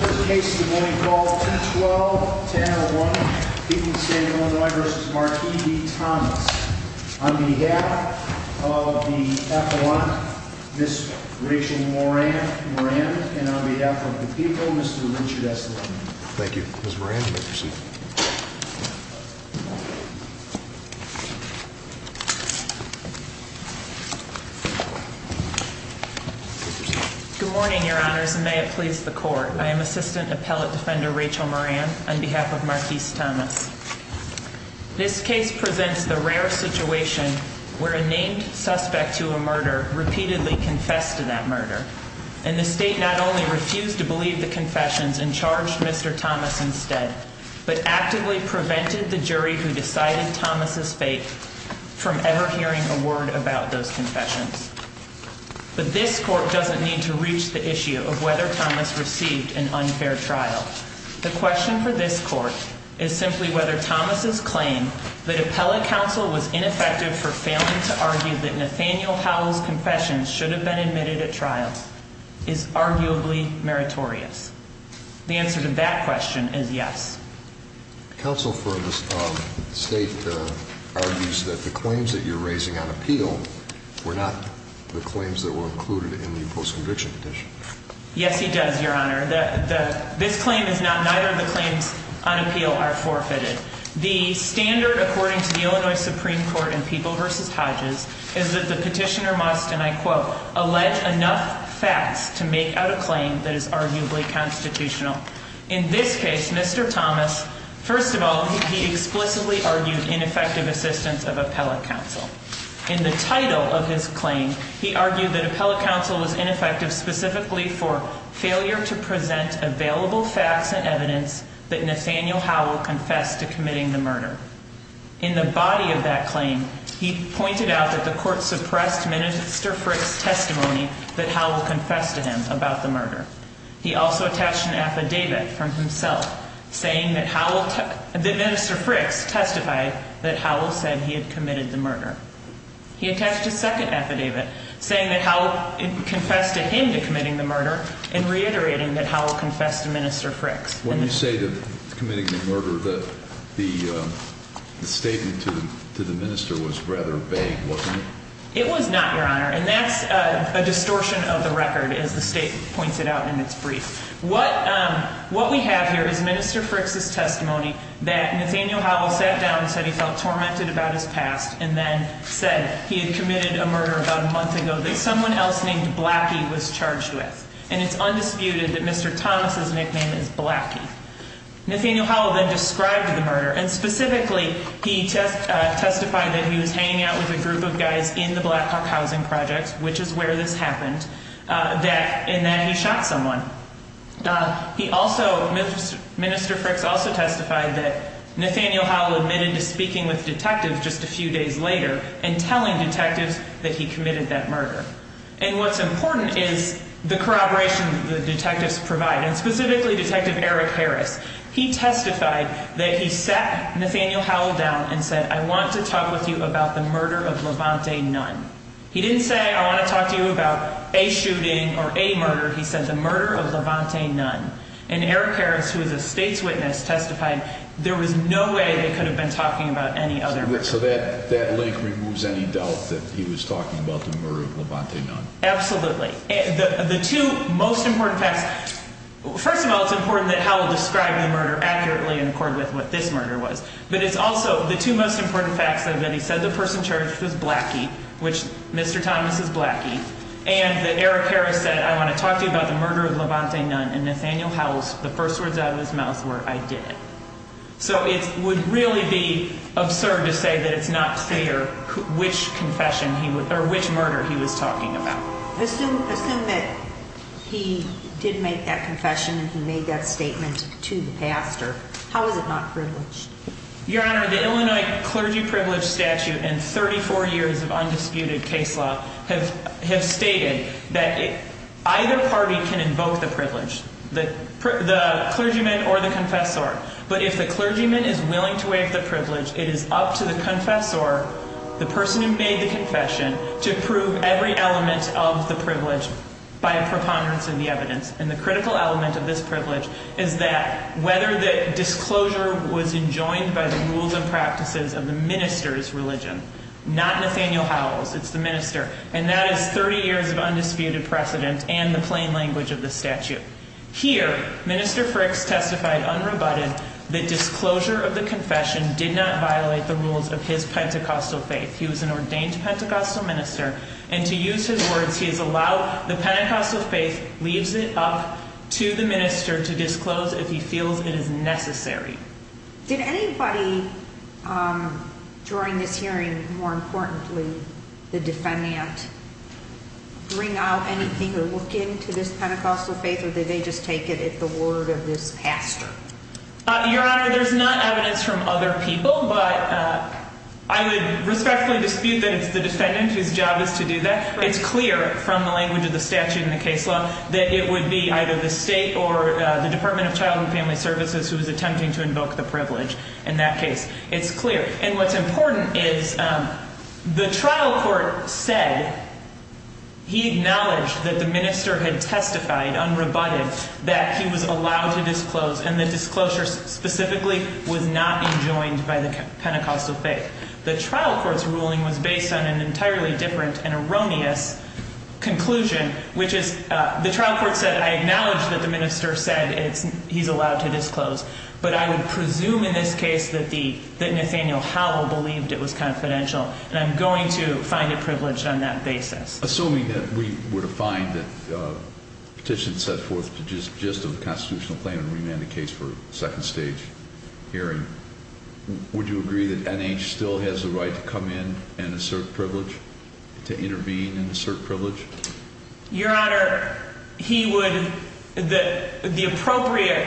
On behalf of the people, Mr. Richard S. Linden. Thank you. Ms. Moran, you may proceed. Good morning, Your Honors, and may it please the Court, I am Assistant Appellate Defender Rachel Moran on behalf of Marquise Thomas. This case presents the rare situation where a named suspect to a murder repeatedly confessed to that murder, and the State not only refused to believe the confessions and charged Mr. Thomas instead, but actively prevented the jury who decided Thomas' fate from ever hearing a word about those confessions. But this Court doesn't need to reach the issue of whether Thomas received an unfair trial. The question for this Court is simply whether Thomas' claim that appellate counsel was ineffective for failing to argue that Nathaniel Howell's confession should have been admitted at trial is arguably meritorious. The answer to that question is yes. Counsel for the State argues that the claims that you're raising on appeal were not the claims that were included in the post-conviction petition. Yes, he does, Your Honor. This claim is not, neither of the claims on appeal are forfeited. The standard according to the Illinois Supreme Court in People v. Hodges is that the petitioner must, and I quote, allege enough facts to make out a claim that is arguably constitutional. In this case, Mr. Thomas, first of all, he explicitly argued ineffective assistance of appellate counsel. In the title of his claim, he argued that appellate counsel was ineffective specifically for failure to present available facts and evidence that Nathaniel Howell confessed to committing the murder. In the body of that claim, he pointed out that the Court suppressed Minister Frick's testimony that Howell confessed to him about the murder. He also attached an affidavit from himself saying that Minister Frick's testified that Howell said he had committed the murder. He attached a second affidavit saying that Howell confessed to him to committing the murder and reiterating that Howell confessed to Minister Frick's. When you say committing the murder, the statement to the minister was rather vague, wasn't it? It was not, Your Honor, and that's a distortion of the record as the state points it out in its brief. What we have here is Minister Frick's testimony that Nathaniel Howell sat down and said he felt tormented about his past and then said he had committed a murder about a month ago that someone else named Blackie was charged with. And it's undisputed that Mr. Thomas' nickname is Blackie. Nathaniel Howell then described the murder and specifically he testified that he was hanging out with a group of guys in the Black Hawk Housing Project, which is where this happened, and that he shot someone. He also, Minister Frick's also testified that Nathaniel Howell admitted to speaking with detectives just a few days later and telling detectives that he committed that murder. And what's important is the corroboration the detectives provide, and specifically Detective Eric Harris. He testified that he sat Nathaniel Howell down and said, I want to talk with you about the murder of Levante Nunn. He didn't say, I want to talk to you about a shooting or a murder. He said the murder of Levante Nunn. And Eric Harris, who is a state's witness, testified there was no way they could have been talking about any other murder. So that link removes any doubt that he was talking about the murder of Levante Nunn. Absolutely. The two most important facts. First of all, it's important that Howell describe the murder accurately in accord with what this murder was. But it's also the two most important facts that he said the person charged was Blackie, which Mr. Thomas is Blackie. And that Eric Harris said, I want to talk to you about the murder of Levante Nunn. And Nathaniel Howell, the first words out of his mouth were, I did it. So it would really be absurd to say that it's not clear which confession or which murder he was talking about. Assume that he did make that confession and he made that statement to the pastor. How is it not privileged? Your Honor, the Illinois clergy privilege statute and 34 years of undisputed case law have stated that either party can invoke the privilege. The clergyman or the confessor. But if the clergyman is willing to waive the privilege, it is up to the confessor, the person who made the confession, to prove every element of the privilege by a preponderance of the evidence. And the critical element of this privilege is that whether the disclosure was enjoined by the rules and practices of the minister's religion. Not Nathaniel Howell's. It's the minister. And that is 30 years of undisputed precedent and the plain language of the statute. Here, Minister Fricks testified unrebutted. The disclosure of the confession did not violate the rules of his Pentecostal faith. He was an ordained Pentecostal minister. And to use his words, he has allowed the Pentecostal faith, leaves it up to the minister to disclose if he feels it is necessary. Did anybody during this hearing, more importantly, the defendant, bring out anything or look into this Pentecostal faith? Or did they just take it at the word of this pastor? Your Honor, there's not evidence from other people. But I would respectfully dispute that it's the defendant whose job is to do that. It's clear from the language of the statute in the case law that it would be either the state or the Department of Child and Family Services who is attempting to invoke the privilege in that case. It's clear. And what's important is the trial court said he acknowledged that the minister had testified unrebutted that he was allowed to disclose. And the disclosure specifically was not enjoined by the Pentecostal faith. The trial court's ruling was based on an entirely different and erroneous conclusion, which is the trial court said I acknowledge that the minister said he's allowed to disclose. But I would presume in this case that Nathaniel Howell believed it was confidential. And I'm going to find it privileged on that basis. Assuming that we were to find that the petition set forth the gist of the constitutional plan and remand the case for a second stage hearing, would you agree that NH still has the right to come in and assert privilege, to intervene and assert privilege? Your Honor, the appropriate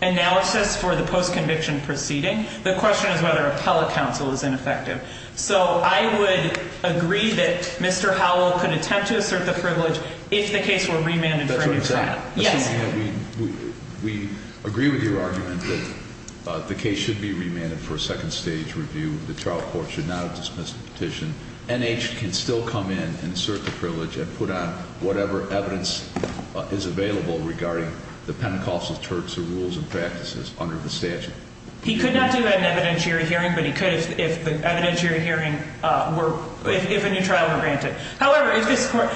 analysis for the post-conviction proceeding, the question is whether appellate counsel is ineffective. So I would agree that Mr. Howell could attempt to assert the privilege if the case were remanded for a new trial. Yes. Assuming that we agree with your argument that the case should be remanded for a second stage review, the trial court should not have dismissed the petition, NH can still come in and assert the privilege and put on whatever evidence is available regarding the Pentecostal church's rules and practices under the statute? He could not do that in an evidentiary hearing, but he could if the evidentiary hearing were, if a new trial were granted. However, if this court,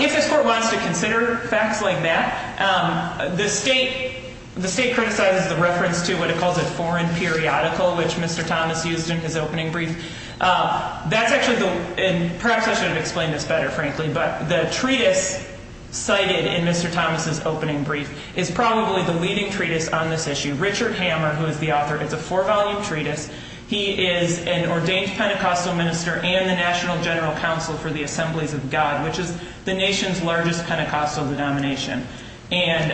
if this court wants to consider facts like that, the state, the state criticizes the reference to what it calls a foreign periodical, which Mr. Thomas used in his opening brief. That's actually the, and perhaps I should have explained this better, frankly, but the treatise cited in Mr. Thomas' opening brief is probably the leading treatise on this issue. Richard Hammer, who is the author, it's a four-volume treatise. He is an ordained Pentecostal minister and the National General Counsel for the Assemblies of God, which is the nation's largest Pentecostal denomination. And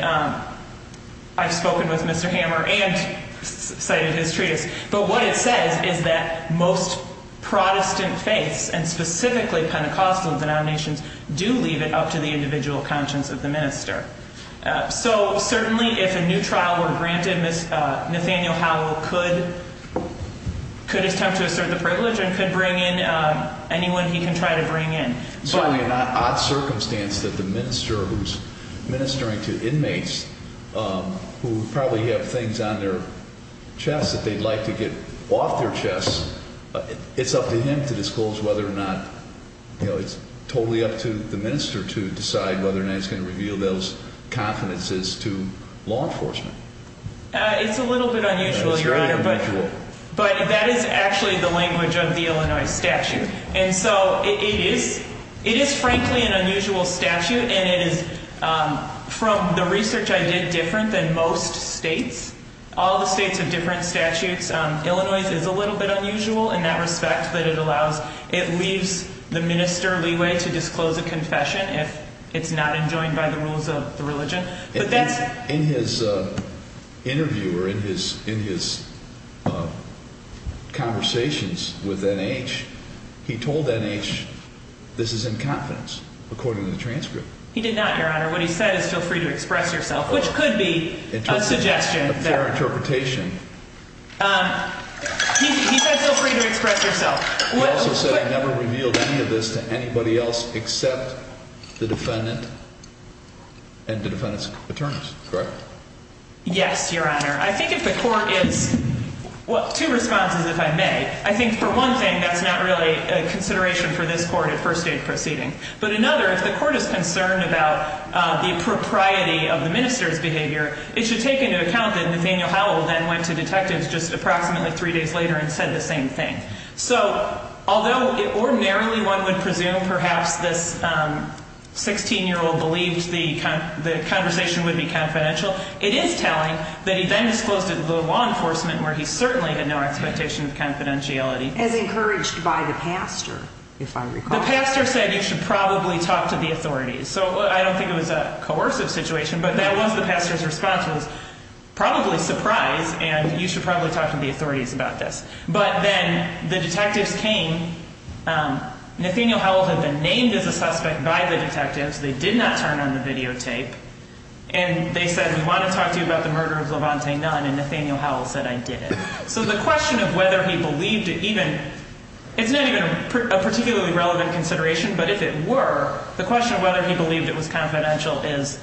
I've spoken with Mr. Hammer and cited his treatise, but what it says is that most Protestant faiths and specifically Pentecostal denominations do leave it up to the individual conscience of the minister. So certainly if a new trial were granted, Nathaniel Howell could, could attempt to assert the privilege and could bring in anyone he can try to bring in. It's certainly an odd circumstance that the minister who's ministering to inmates who probably have things on their chest that they'd like to get off their chest, it's up to him to disclose whether or not, you know, it's totally up to the minister to decide whether or not he's going to reveal those confidences to law enforcement. It's a little bit unusual, Your Honor, but that is actually the language of the Illinois statute. And so it is, it is frankly an unusual statute and it is, from the research I did, different than most states. All the states have different statutes. Illinois is a little bit unusual in that respect that it allows, it leaves the minister leeway to disclose a confession if it's not enjoined by the rules of the religion. In his interview or in his, in his conversations with N.H., he told N.H. this is in confidence, according to the transcript. He did not, Your Honor. What he said is feel free to express yourself, which could be a suggestion. A fair interpretation. He said feel free to express yourself. He also said he never revealed any of this to anybody else except the defendant and the defendant's attorneys. Correct? Yes, Your Honor. I think if the court is, well, two responses if I may. I think for one thing, that's not really a consideration for this court at first date proceeding. But another, if the court is concerned about the propriety of the minister's behavior, it should take into account that Nathaniel Howell then went to detectives just approximately three days later and said the same thing. So although ordinarily one would presume perhaps this 16-year-old believed the conversation would be confidential, it is telling that he then disclosed it to the law enforcement where he certainly had no expectation of confidentiality. As encouraged by the pastor, if I recall. The pastor said you should probably talk to the authorities. So I don't think it was a coercive situation, but that was the pastor's response was probably surprise and you should probably talk to the authorities about this. But then the detectives came. Nathaniel Howell had been named as a suspect by the detectives. They did not turn on the videotape. And they said, we want to talk to you about the murder of Lavontae Nunn. And Nathaniel Howell said, I did it. So the question of whether he believed it even, it's not even a particularly relevant consideration. But if it were, the question of whether he believed it was confidential is,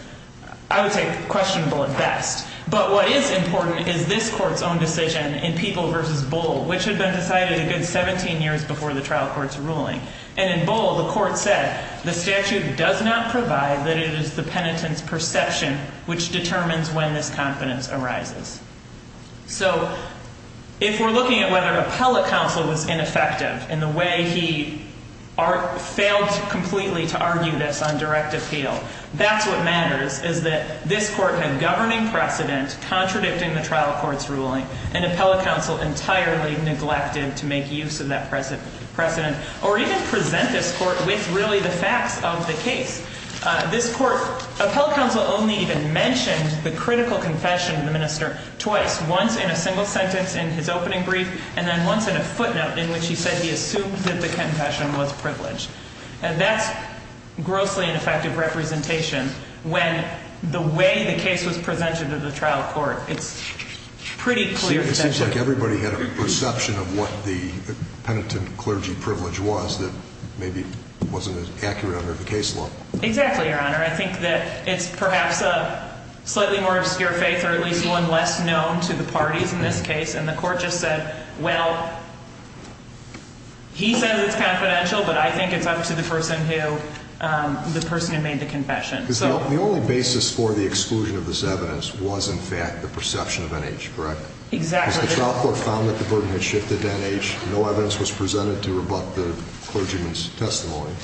I would say, questionable at best. But what is important is this court's own decision in People v. Bull, which had been decided a good 17 years before the trial court's ruling. And in Bull, the court said, the statute does not provide that it is the penitent's perception which determines when this confidence arises. So if we're looking at whether appellate counsel was ineffective in the way he failed completely to argue this on direct appeal, that's what matters. What matters is that this court had governing precedent contradicting the trial court's ruling. And appellate counsel entirely neglected to make use of that precedent or even present this court with really the facts of the case. This court, appellate counsel only even mentioned the critical confession of the minister twice, once in a single sentence in his opening brief, and then once in a footnote in which he said he assumed that the confession was privileged. And that's grossly ineffective representation when the way the case was presented to the trial court, it's pretty clear that that's not true. It seems like everybody had a perception of what the penitent clergy privilege was that maybe wasn't as accurate under the case law. Exactly, Your Honor. I think that it's perhaps a slightly more obscure faith or at least one less known to the parties in this case. And the court just said, well, he said it's confidential, but I think it's up to the person who made the confession. The only basis for the exclusion of this evidence was, in fact, the perception of NH, correct? Exactly. Because the trial court found that the burden had shifted to NH. No evidence was presented to rebut the clergyman's testimony.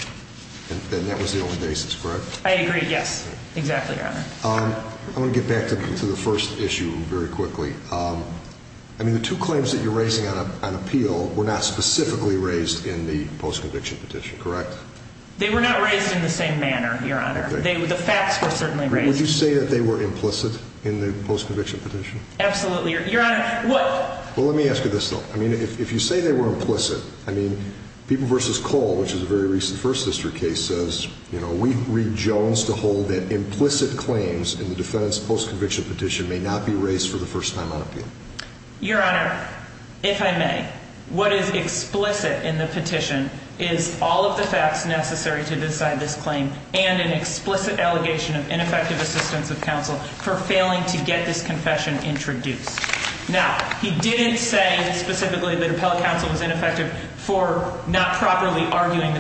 And that was the only basis, correct? I agree, yes. Exactly, Your Honor. I want to get back to the first issue very quickly. I mean, the two claims that you're raising on appeal were not specifically raised in the post-conviction petition, correct? They were not raised in the same manner, Your Honor. The facts were certainly raised. Would you say that they were implicit in the post-conviction petition? Absolutely, Your Honor. Well, let me ask you this, though. I mean, if you say they were implicit, I mean, People v. Cole, which is a very recent First District case, says, you know, we read Jones to hold that implicit claims in the defendant's post-conviction petition may not be raised for the first time on appeal. Your Honor, if I may, what is explicit in the petition is all of the facts necessary to decide this claim and an explicit allegation of ineffective assistance of counsel for failing to get this confession introduced. Now, he didn't say specifically that appellate counsel was ineffective for not properly arguing the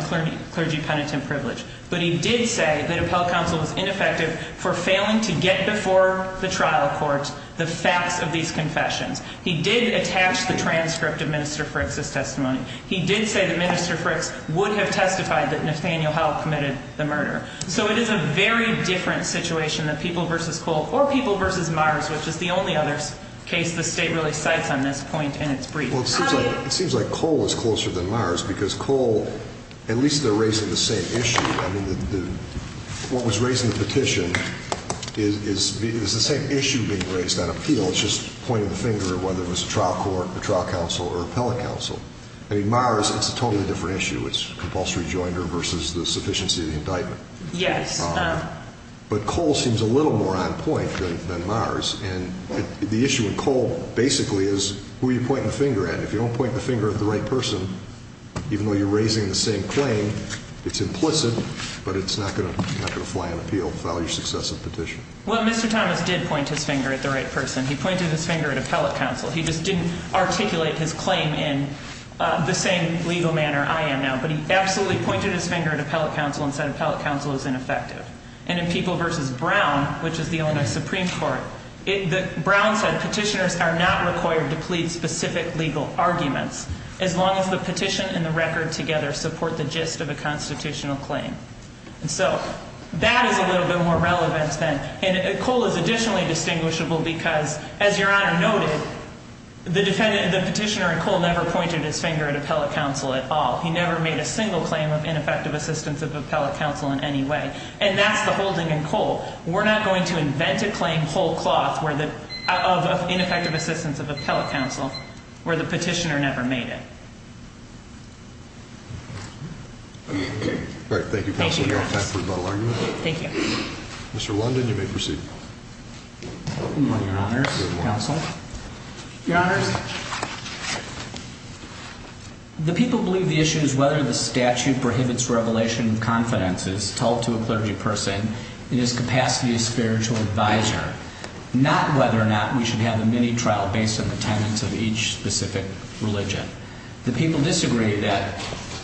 clergy penitent privilege. But he did say that appellate counsel was ineffective for failing to get before the trial court the facts of these confessions. He did attach the transcript of Minister Frick's testimony. He did say that Minister Frick would have testified that Nathaniel Howell committed the murder. So it is a very different situation than People v. Cole or People v. Mars, which is the only other case the State really cites on this point in its brief. Well, it seems like Cole is closer than Mars because Cole, at least they're raising the same issue. I mean, what was raised in the petition is the same issue being raised on appeal. It's just pointing the finger at whether it was trial court or trial counsel or appellate counsel. I mean, Mars, it's a totally different issue. It's compulsory joinder versus the sufficiency of the indictment. Yes. But Cole seems a little more on point than Mars. And the issue with Cole basically is who you're pointing the finger at. If you don't point the finger at the right person, even though you're raising the same claim, it's implicit, but it's not going to fly on appeal. Follow your successive petition. Well, Mr. Thomas did point his finger at the right person. He pointed his finger at appellate counsel. He just didn't articulate his claim in the same legal manner I am now. But he absolutely pointed his finger at appellate counsel and said appellate counsel is ineffective. And in People v. Brown, which is the Illinois Supreme Court, Brown said petitioners are not required to plead specific legal arguments, as long as the petition and the record together support the gist of a constitutional claim. And so that is a little bit more relevant then. And Cole is additionally distinguishable because, as Your Honor noted, the petitioner in Cole never pointed his finger at appellate counsel at all. He never made a single claim of ineffective assistance of appellate counsel in any way. And that's the holding in Cole. We're not going to invent a claim of ineffective assistance of appellate counsel where the petitioner never made it. All right. Thank you, Counsel. Thank you, Thomas. Counsel, are you with us? Thank you. Mr. London, you may proceed. Good morning, Your Honors, Counsel. Your Honors, the people believe the issue is whether the statute prohibits revelation of confidences told to a clergy person in his capacity as spiritual advisor, not whether or not we should have a mini-trial based on the tenets of each specific religion. The people disagree that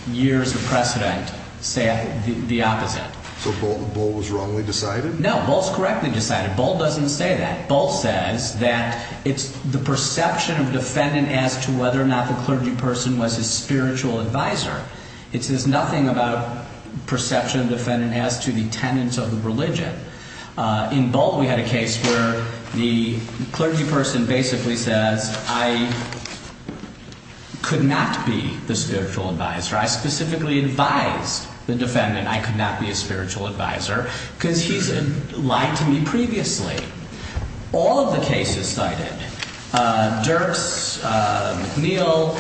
years of precedent say the opposite. So Boalt was wrongly decided? No, Boalt is correctly decided. Boalt doesn't say that. Boalt says that it's the perception of defendant as to whether or not the clergy person was his spiritual advisor. It says nothing about perception of defendant as to the tenets of the religion. In Boalt, we had a case where the clergy person basically says, I could not be the spiritual advisor. I specifically advised the defendant I could not be a spiritual advisor because he's lied to me previously. All of the cases cited, Dirks, McNeil,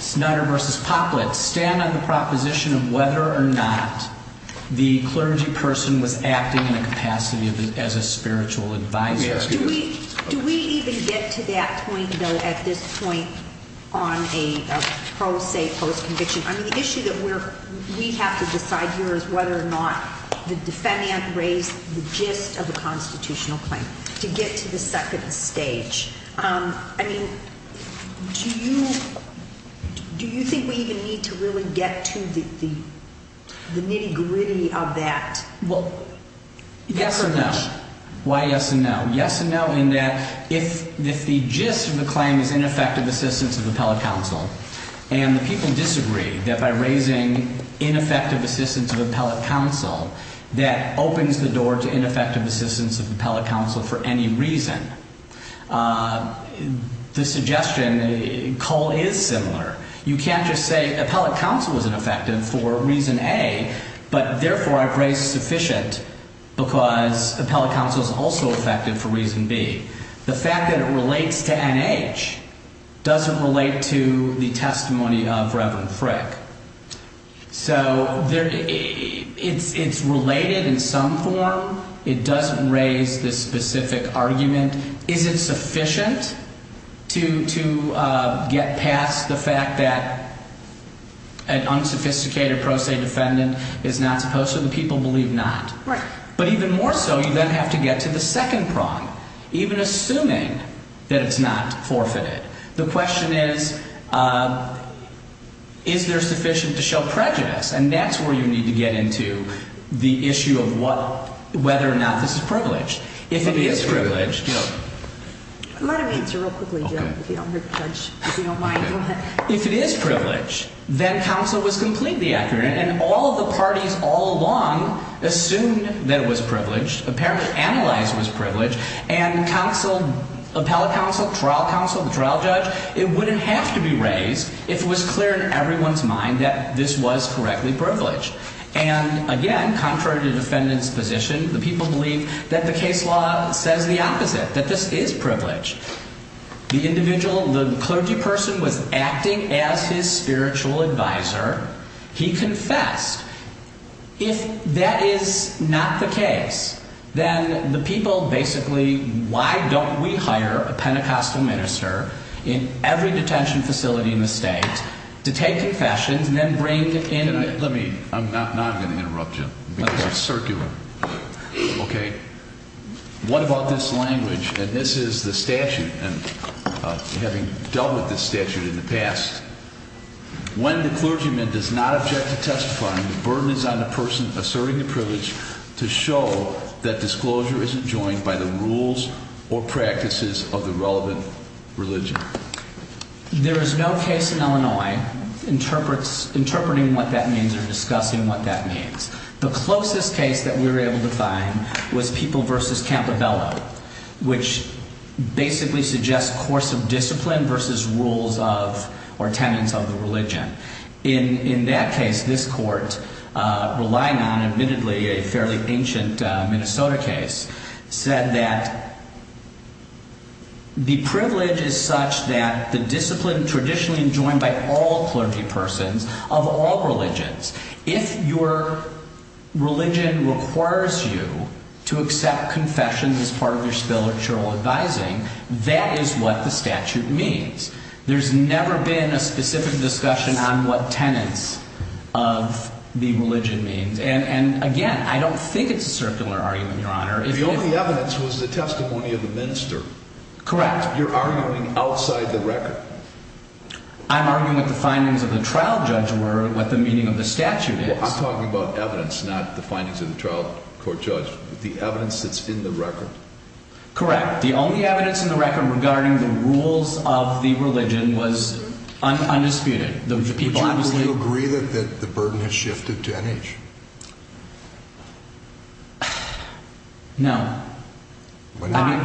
Snyder v. Poplett, stand on the proposition of whether or not the clergy person was acting in a capacity as a spiritual advisor. Let me ask you this. Do we even get to that point, though, at this point on a pro se post-conviction? I mean, the issue that we have to decide here is whether or not the defendant raised the gist of the constitutional claim to get to the second stage. I mean, do you think we even need to really get to the nitty gritty of that? Well, yes and no. Why yes and no? Yes and no in that if the gist of the claim is ineffective assistance of appellate counsel and the people disagree that by raising ineffective assistance of appellate counsel, that opens the door to ineffective assistance of appellate counsel for any reason. The suggestion, Cole, is similar. You can't just say appellate counsel was ineffective for reason A, but therefore I've raised sufficient because appellate counsel is also effective for reason B. The fact that it relates to NH doesn't relate to the testimony of Reverend Frick. So it's related in some form. It doesn't raise the specific argument. And is it sufficient to get past the fact that an unsophisticated pro se defendant is not supposed to? The people believe not. But even more so, you then have to get to the second prong, even assuming that it's not forfeited. The question is, is there sufficient to show prejudice? And that's where you need to get into the issue of whether or not this is privileged. If it is privileged, then counsel was completely accurate. And all of the parties all along assumed that it was privileged. Apparently Analyze was privileged. And counsel, appellate counsel, trial counsel, trial judge, it wouldn't have to be raised if it was clear in everyone's mind that this was correctly privileged. And again, contrary to defendant's position, the people believe that the case law says the opposite, that this is privileged. The individual, the clergy person was acting as his spiritual advisor. He confessed. If that is not the case, then the people basically, why don't we hire a Pentecostal minister in every detention facility in the state to take confessions and then bring in? Let me, I'm not going to interrupt you because it's circular. Okay. What about this language? And this is the statute and having dealt with this statute in the past. When the clergyman does not object to testify, the burden is on the person asserting the privilege to show that disclosure isn't joined by the rules or practices of the relevant religion. There is no case in Illinois interpreting what that means or discussing what that means. The closest case that we were able to find was People v. Campobello, which basically suggests course of discipline versus rules of or tenets of the religion. In that case, this court, relying on admittedly a fairly ancient Minnesota case, said that the privilege is such that the discipline traditionally joined by all clergy persons of all religions. If your religion requires you to accept confession as part of your spiritual advising, that is what the statute means. There's never been a specific discussion on what tenets of the religion means. And again, I don't think it's a circular argument, Your Honor. The only evidence was the testimony of the minister. Correct. You're arguing outside the record. I'm arguing what the findings of the trial judge were, what the meaning of the statute is. I'm talking about evidence, not the findings of the trial court judge. The evidence that's in the record. Correct. The only evidence in the record regarding the rules of the religion was undisputed. Would you agree that the burden has shifted to N.H.? No. Why not? Let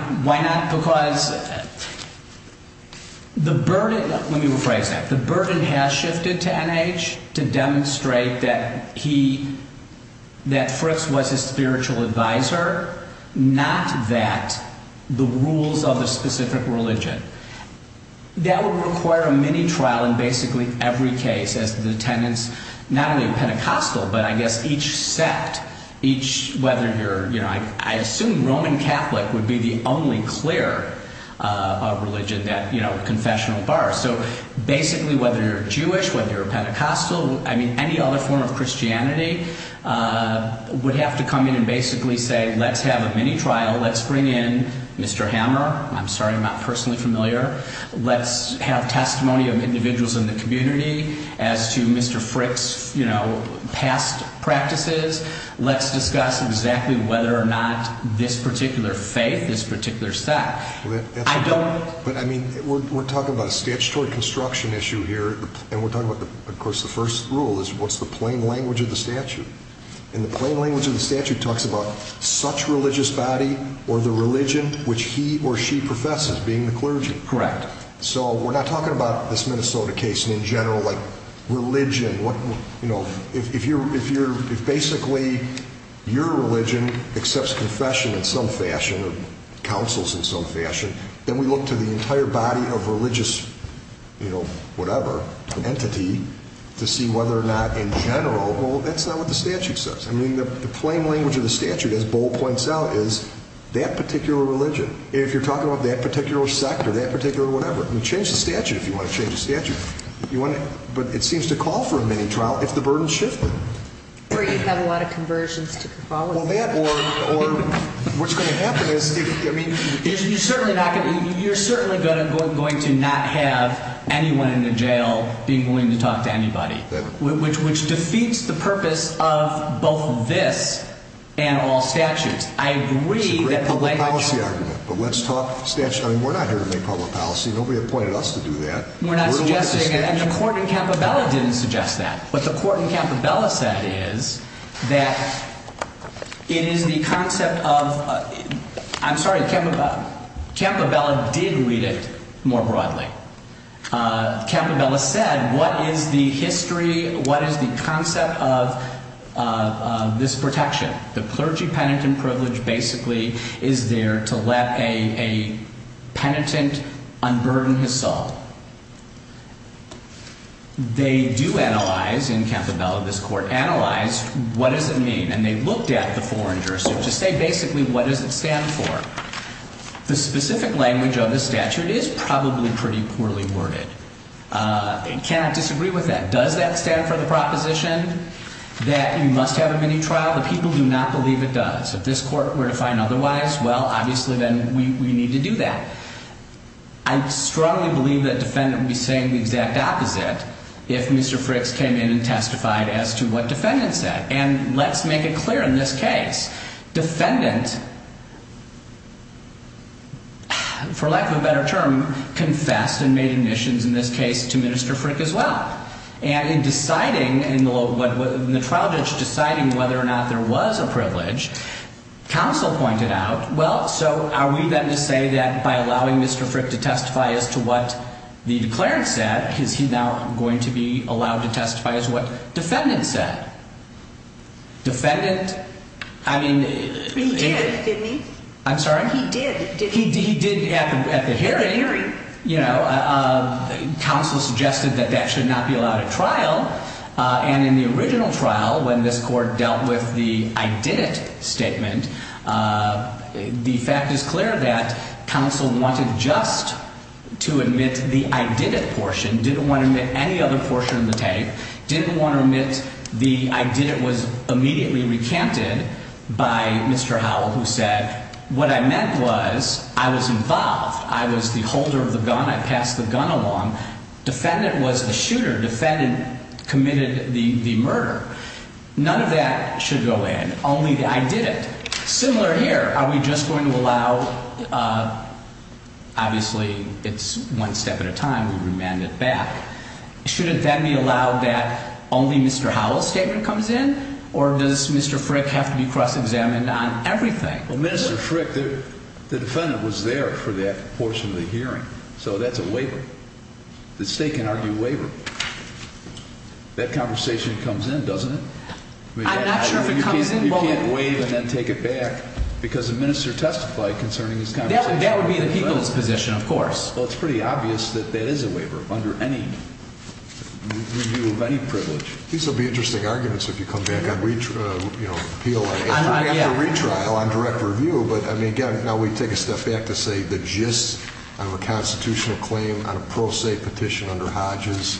me rephrase that. The burden has shifted to N.H. to demonstrate that Fritz was a spiritual advisor, not that the rules of a specific religion. That would require a mini-trial in basically every case as to the tenets, not only of Pentecostal, but I guess each sect, I assume Roman Catholic would be the only clear religion that confessional bars. So basically, whether you're Jewish, whether you're Pentecostal, any other form of Christianity, would have to come in and basically say, let's have a mini-trial, let's bring in Mr. Hammer. I'm sorry, I'm not personally familiar. Let's have testimony of individuals in the community as to Mr. Fritz' past practices. Let's discuss exactly whether or not this particular faith, this particular sect. But I mean, we're talking about a statutory construction issue here. And we're talking about, of course, the first rule is what's the plain language of the statute. And the plain language of the statute talks about such religious body or the religion which he or she professes, being the clergy. Correct. So we're not talking about this Minnesota case in general, like religion. If basically your religion accepts confession in some fashion, or counsels in some fashion, then we look to the entire body of religious, you know, whatever, entity to see whether or not in general, well, that's not what the statute says. I mean, the plain language of the statute, as Bo points out, is that particular religion. If you're talking about that particular sect or that particular whatever, you change the statute if you want to change the statute. But it seems to call for a mini-trial if the burden's shifted. Or you'd have a lot of conversions to follow. Well, that or what's going to happen is, I mean. You're certainly going to not have anyone in the jail being willing to talk to anybody, which defeats the purpose of both this and all statutes. I agree that the layman. It's a great public policy argument, but let's talk statute. I mean, we're not here to make public policy. Nobody appointed us to do that. We're not suggesting, and the court in Campobella didn't suggest that. What the court in Campobella said is that it is the concept of, I'm sorry, Campobella did read it more broadly. Campobella said, what is the history, what is the concept of this protection? The clergy penitent privilege basically is there to let a penitent unburden his soul. They do analyze in Campobella, this court analyzed, what does it mean? And they looked at the foreign jurisdiction to say, basically, what does it stand for? The specific language of the statute is probably pretty poorly worded. It cannot disagree with that. Does that stand for the proposition that you must have a mini-trial? The people do not believe it does. If this court were to find otherwise, well, obviously, then we need to do that. I strongly believe that defendant would be saying the exact opposite if Mr. Frick's came in and testified as to what defendant said. And let's make it clear in this case. Defendant, for lack of a better term, confessed and made admissions in this case to Minister Frick as well. And in deciding, in the trial judge deciding whether or not there was a privilege, counsel pointed out, well, so are we then to say that by allowing Mr. Frick to testify as to what the declarant said, is he now going to be allowed to testify as to what defendant said? Defendant, I mean. He did, didn't he? I'm sorry? He did, didn't he? He did at the hearing. At the hearing. You know, counsel suggested that that should not be allowed at trial. And in the original trial, when this court dealt with the I did it statement, the fact is clear that counsel wanted just to admit the I did it portion. Didn't want to admit any other portion of the tape. Didn't want to admit the I did it was immediately recanted by Mr. Howell, who said what I meant was I was involved. I was the holder of the gun. I passed the gun along. Defendant was the shooter. Defendant committed the murder. None of that should go in. Only the I did it. Similar here. Are we just going to allow, obviously it's one step at a time, we remand it back. Shouldn't that be allowed that only Mr. Howell's statement comes in? Or does Mr. Frick have to be cross-examined on everything? Well, Mr. Frick, the defendant was there for that portion of the hearing. So that's a waiver. The state can argue waiver. That conversation comes in, doesn't it? I'm not sure if it comes in. You can't waive and then take it back because the minister testified concerning his conversation. That would be the people's position, of course. Well, it's pretty obvious that that is a waiver under any review of any privilege. These will be interesting arguments if you come back on appeal after retrial on direct review. But, I mean, again, now we take a step back to say the gist of a constitutional claim on a pro se petition under Hodges.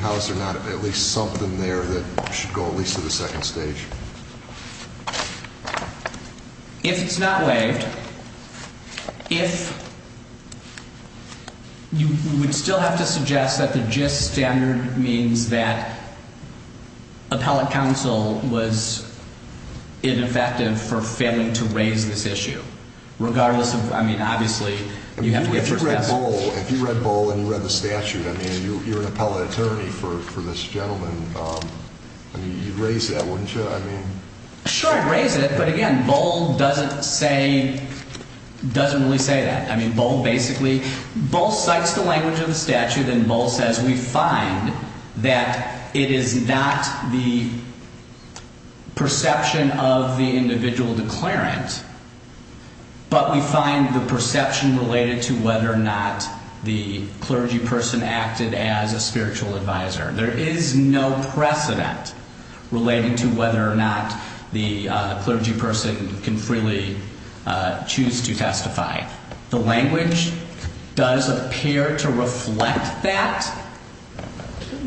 How is there not at least something there that should go at least to the second stage? If it's not waived, if you would still have to suggest that the gist standard means that appellate counsel was ineffective for failing to raise this issue. Regardless of, I mean, obviously, you have to get first testimony. If you read Bull and you read the statute, I mean, you're an appellate attorney for this gentleman. You'd raise that, wouldn't you? Sure, I'd raise it. But, again, Bull doesn't say, doesn't really say that. I mean, Bull basically, Bull cites the language of the statute and Bull says we find that it is not the perception of the individual declarant. But we find the perception related to whether or not the clergy person acted as a spiritual advisor. There is no precedent relating to whether or not the clergy person can freely choose to testify. The language does appear to reflect that.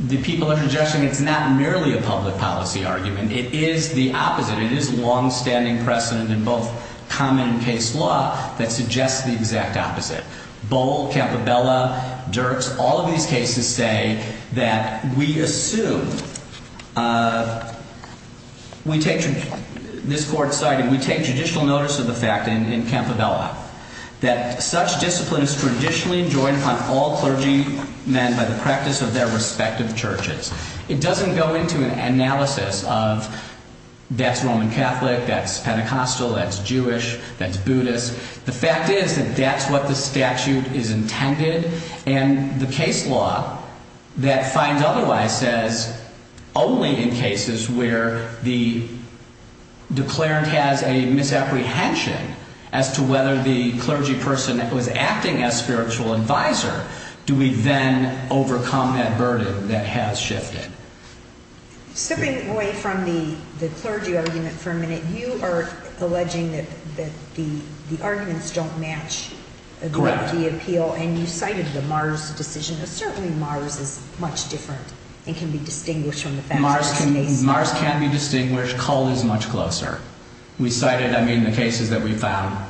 The people are suggesting it's not merely a public policy argument. It is the opposite. It is longstanding precedent in both common and case law that suggests the exact opposite. Bull, Campobella, Dirks, all of these cases say that we assume, this court cited, we take judicial notice of the fact in Campobella that such discipline is traditionally enjoyed upon all clergymen by the practice of their respective churches. It doesn't go into an analysis of that's Roman Catholic, that's Pentecostal, that's Jewish, that's Buddhist. The fact is that that's what the statute is intended and the case law that finds otherwise says only in cases where the declarant has a misapprehension as to whether the clergy person was acting as spiritual advisor do we then overcome that burden that has shifted. Stepping away from the clergy argument for a minute, you are alleging that the arguments don't match the appeal. Correct. And you cited the Mars decision. Certainly Mars is much different and can be distinguished from the fact that it's in Mason. Mars can be distinguished. Cull is much closer. We cited, I mean, the cases that we found.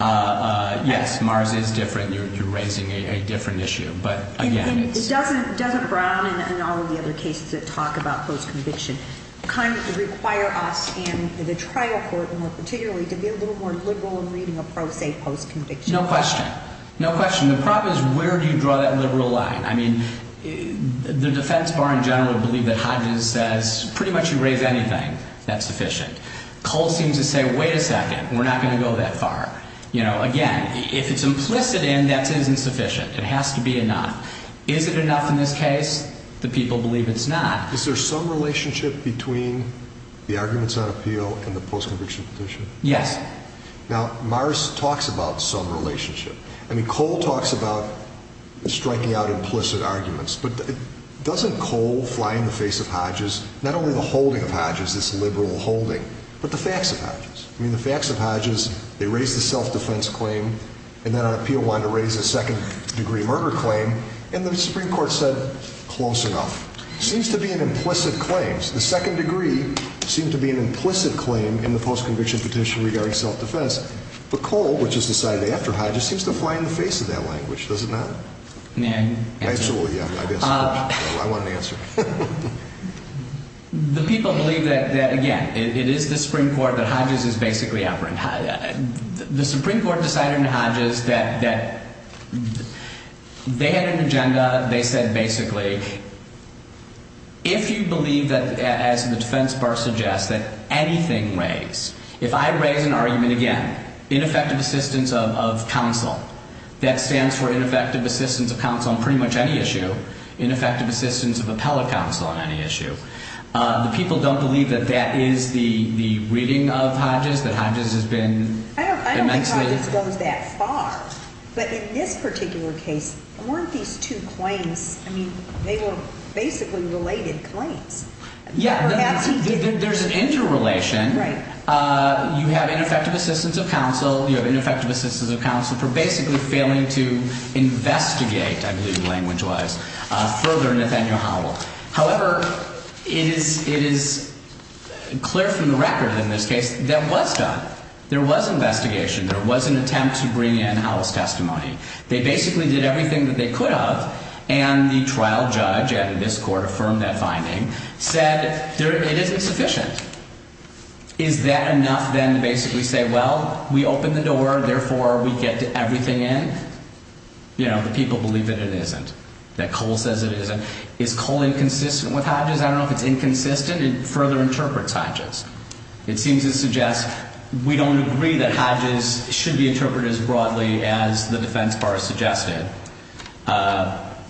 Yes, Mars is different. You're raising a different issue. Doesn't Brown and all of the other cases that talk about post-conviction kind of require us and the trial court more particularly to be a little more liberal in reading a pro se post-conviction? No question. No question. The problem is where do you draw that liberal line? I mean, the defense bar in general would believe that Hodges says pretty much you raise anything, that's sufficient. Cull seems to say, wait a second, we're not going to go that far. Again, if it's implicit in, that isn't sufficient. It has to be enough. Is it enough in this case? The people believe it's not. Is there some relationship between the arguments on appeal and the post-conviction petition? Yes. Now, Mars talks about some relationship. I mean, Cull talks about striking out implicit arguments. But doesn't Cull fly in the face of Hodges, not only the holding of Hodges, this liberal holding, but the facts of Hodges? I mean, the facts of Hodges, they raised the self-defense claim, and then on appeal wanted to raise a second-degree murder claim, and the Supreme Court said close enough. It seems to be an implicit claim. The second degree seemed to be an implicit claim in the post-conviction petition regarding self-defense. But Cull, which is decided after Hodges, seems to fly in the face of that language, does it not? May I answer? I guess. I want an answer. The people believe that, again, it is the Supreme Court that Hodges is basically operant. The Supreme Court decided under Hodges that they had an agenda. They said, basically, if you believe that, as the defense bar suggests, that anything raised, if I raise an argument again, ineffective assistance of counsel, that stands for ineffective assistance of counsel on pretty much any issue, ineffective assistance of appellate counsel on any issue. The people don't believe that that is the reading of Hodges, that Hodges has been immensely. I don't think Hodges goes that far. But in this particular case, weren't these two claims, I mean, they were basically related claims. Yeah, there's an interrelation. Right. You have ineffective assistance of counsel. You have ineffective assistance of counsel for basically failing to investigate, I believe language-wise, further Nathaniel Howell. However, it is clear from the record in this case that was done. There was investigation. There was an attempt to bring in Howell's testimony. They basically did everything that they could have, and the trial judge at this court affirmed that finding, said it isn't sufficient. Is that enough then to basically say, well, we opened the door, therefore we get everything in? You know, the people believe that it isn't, that Cole says it isn't. Is Cole inconsistent with Hodges? I don't know if it's inconsistent. It further interprets Hodges. It seems to suggest we don't agree that Hodges should be interpreted as broadly as the defense bar has suggested.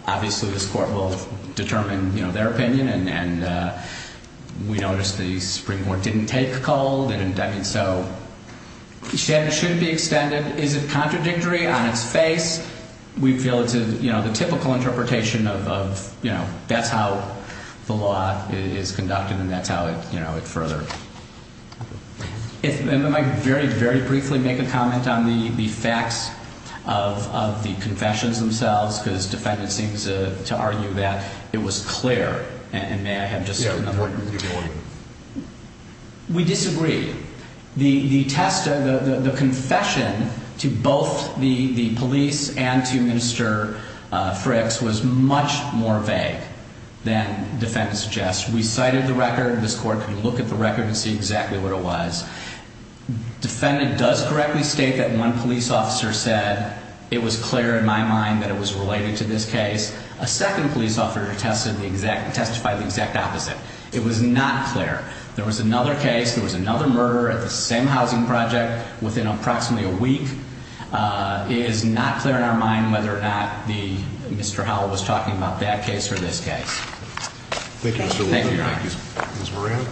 Obviously, this court will determine, you know, their opinion, and we noticed the Supreme Court didn't take Cole. They didn't, I mean, so the standard shouldn't be extended. Is it contradictory on its face? We feel it's a, you know, the typical interpretation of, you know, that's how the law is conducted, and that's how it, you know, it further. If, and I might very, very briefly make a comment on the facts of the confessions themselves, because defendant seems to argue that it was clear, and may I have just another? Yeah, go ahead. We disagree. The test, the confession to both the police and to Minister Frick's was much more vague than defendant suggests. We cited the record. This court can look at the record and see exactly what it was. Defendant does correctly state that one police officer said it was clear in my mind that it was related to this case. A second police officer testified the exact opposite. It was not clear. There was another case. There was another murder at the same housing project within approximately a week. It is not clear in our mind whether or not the, Mr. Howell was talking about that case or this case. Thank you. Thank you. Ms. Moran.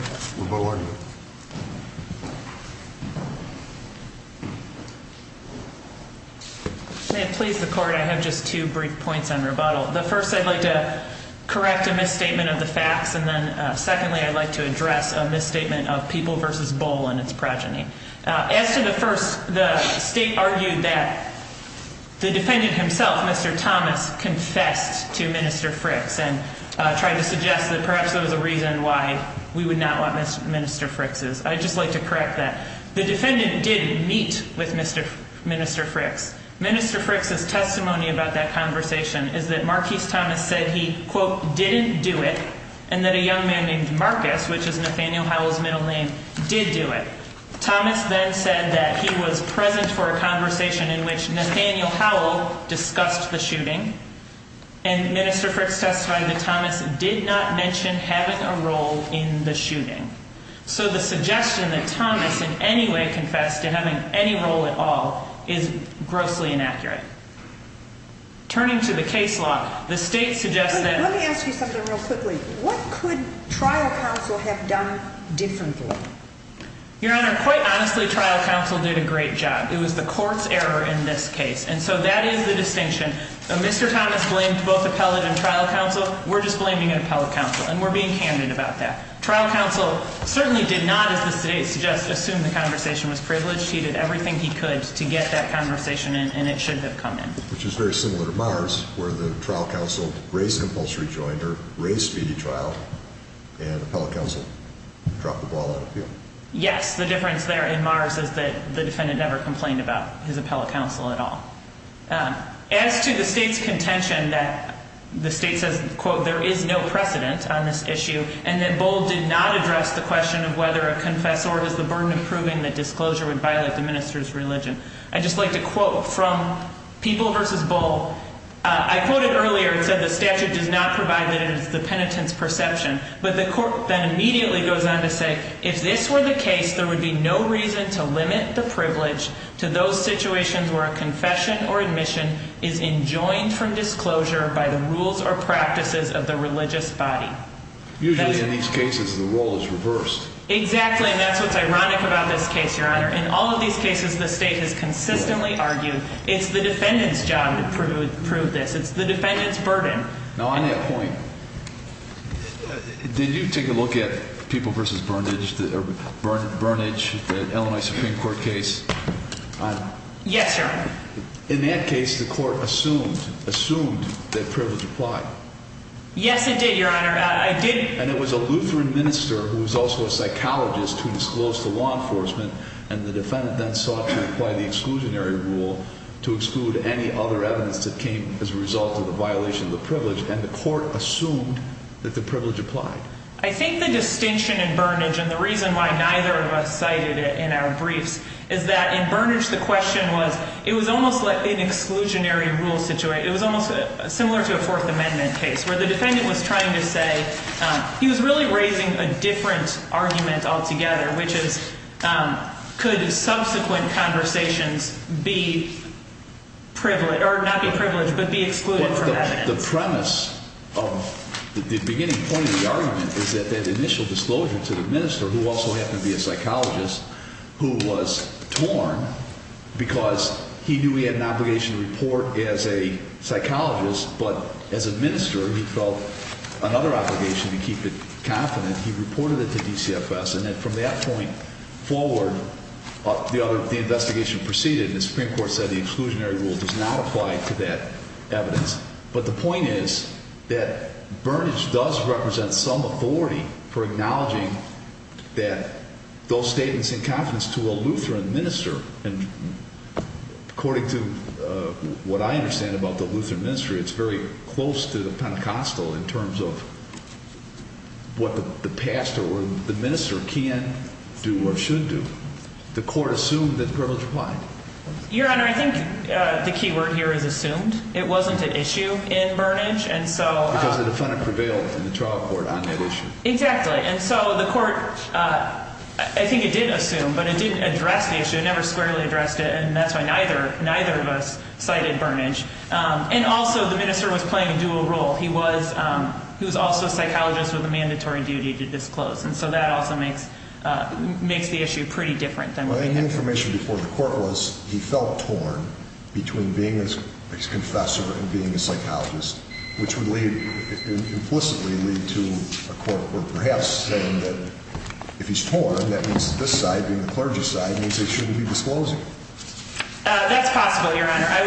May it please the court. I have just two brief points on rebuttal. The first, I'd like to correct a misstatement of the facts. And then secondly, I'd like to address a misstatement of people versus bowl and its progeny. As to the first, the state argued that the defendant himself, Mr. Thomas, confessed to Minister Frick's and tried to suggest that perhaps there was a reason why we would not want Minister Frick's. I'd just like to correct that. The defendant did meet with Minister Frick's. Minister Frick's testimony about that conversation is that Marquis Thomas said he, quote, didn't do it and that a young man named Marcus, which is Nathaniel Howell's middle name, did do it. Thomas then said that he was present for a conversation in which Nathaniel Howell discussed the shooting. And Minister Frick's testified that Thomas did not mention having a role in the shooting. So the suggestion that Thomas in any way confessed to having any role at all is grossly inaccurate. Turning to the case law, the state suggests that... Let me ask you something real quickly. What could trial counsel have done differently? Your Honor, quite honestly, trial counsel did a great job. It was the court's error in this case. And so that is the distinction. Mr. Thomas blamed both appellate and trial counsel. We're just blaming an appellate counsel. And we're being candid about that. Trial counsel certainly did not, as the state suggests, assume the conversation was privileged. He did everything he could to get that conversation in, and it should have come in. Which is very similar to Mars, where the trial counsel raised compulsory joint or raised speedy trial, and appellate counsel dropped the ball out of the field. Yes, the difference there in Mars is that the defendant never complained about his appellate counsel at all. As to the state's contention that the state says, quote, there is no precedent on this issue, and that Bull did not address the question of whether a confessor has the burden of proving that disclosure would violate the minister's religion. I'd just like to quote from People v. Bull. I quoted earlier and said the statute does not provide that it is the penitent's perception. But the court then immediately goes on to say, if this were the case, there would be no reason to limit the privilege to those situations where a confession or admission is enjoined from disclosure by the rules or practices of the religious body. Usually, in these cases, the role is reversed. Exactly, and that's what's ironic about this case, Your Honor. In all of these cases, the state has consistently argued it's the defendant's job to prove this. It's the defendant's burden. Now, on that point, did you take a look at People v. Burnage, the Illinois Supreme Court case? Yes, Your Honor. In that case, the court assumed that privilege applied. Yes, it did, Your Honor. And it was a Lutheran minister who was also a psychologist who disclosed to law enforcement. And the defendant then sought to apply the exclusionary rule to exclude any other evidence that came as a result of the violation of the privilege. And the court assumed that the privilege applied. I think the distinction in Burnage, and the reason why neither of us cited it in our briefs, is that in Burnage, the question was, it was almost like an exclusionary rule situation. It was almost similar to a Fourth Amendment case, where the defendant was trying to say, he was really raising a different argument altogether, which is, could subsequent conversations be privileged, or not be privileged, but be excluded from that argument? And the premise of the beginning point of the argument is that that initial disclosure to the minister, who also happened to be a psychologist, who was torn because he knew he had an obligation to report as a psychologist, but as a minister, he felt another obligation to keep it confident. He reported it to DCFS. And then from that point forward, the investigation proceeded, and the Supreme Court said the exclusionary rule does not apply to that evidence. But the point is that Burnage does represent some authority for acknowledging that those statements in confidence to a Lutheran minister, and according to what I understand about the Lutheran ministry, it's very close to the Pentecostal in terms of what the pastor or the minister can do or should do. The court assumed that privilege applied. Your Honor, I think the key word here is assumed. It wasn't an issue in Burnage. Because the defendant prevailed in the trial court on that issue. Exactly. And so the court, I think it did assume, but it didn't address the issue. It never squarely addressed it. And that's why neither of us cited Burnage. And also, the minister was playing a dual role. He was also a psychologist with a mandatory duty to disclose. And so that also makes the issue pretty different than what they had to do. The information before the court was he felt torn between being a confessor and being a psychologist, which would implicitly lead to a court perhaps saying that if he's torn, that means that this side, being the clergy side, means they shouldn't be disclosing. That's possible, Your Honor. I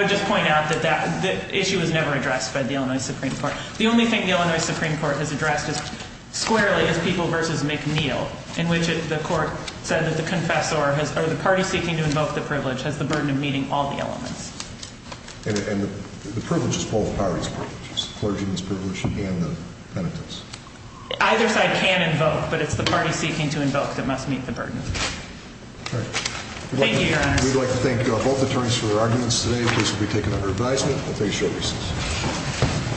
would just point out that the issue was never addressed by the Illinois Supreme Court. The only thing the Illinois Supreme Court has addressed squarely is People v. McNeil, in which the court said that the confessor or the party seeking to invoke the privilege has the burden of meeting all the elements. And the privilege is both parties' privileges, the clergyman's privilege and the penitent's. Either side can invoke, but it's the party seeking to invoke that must meet the burden. Thank you, Your Honor. We'd like to thank both attorneys for their arguments today. The case will be taken under advisement. I'll take a short recess.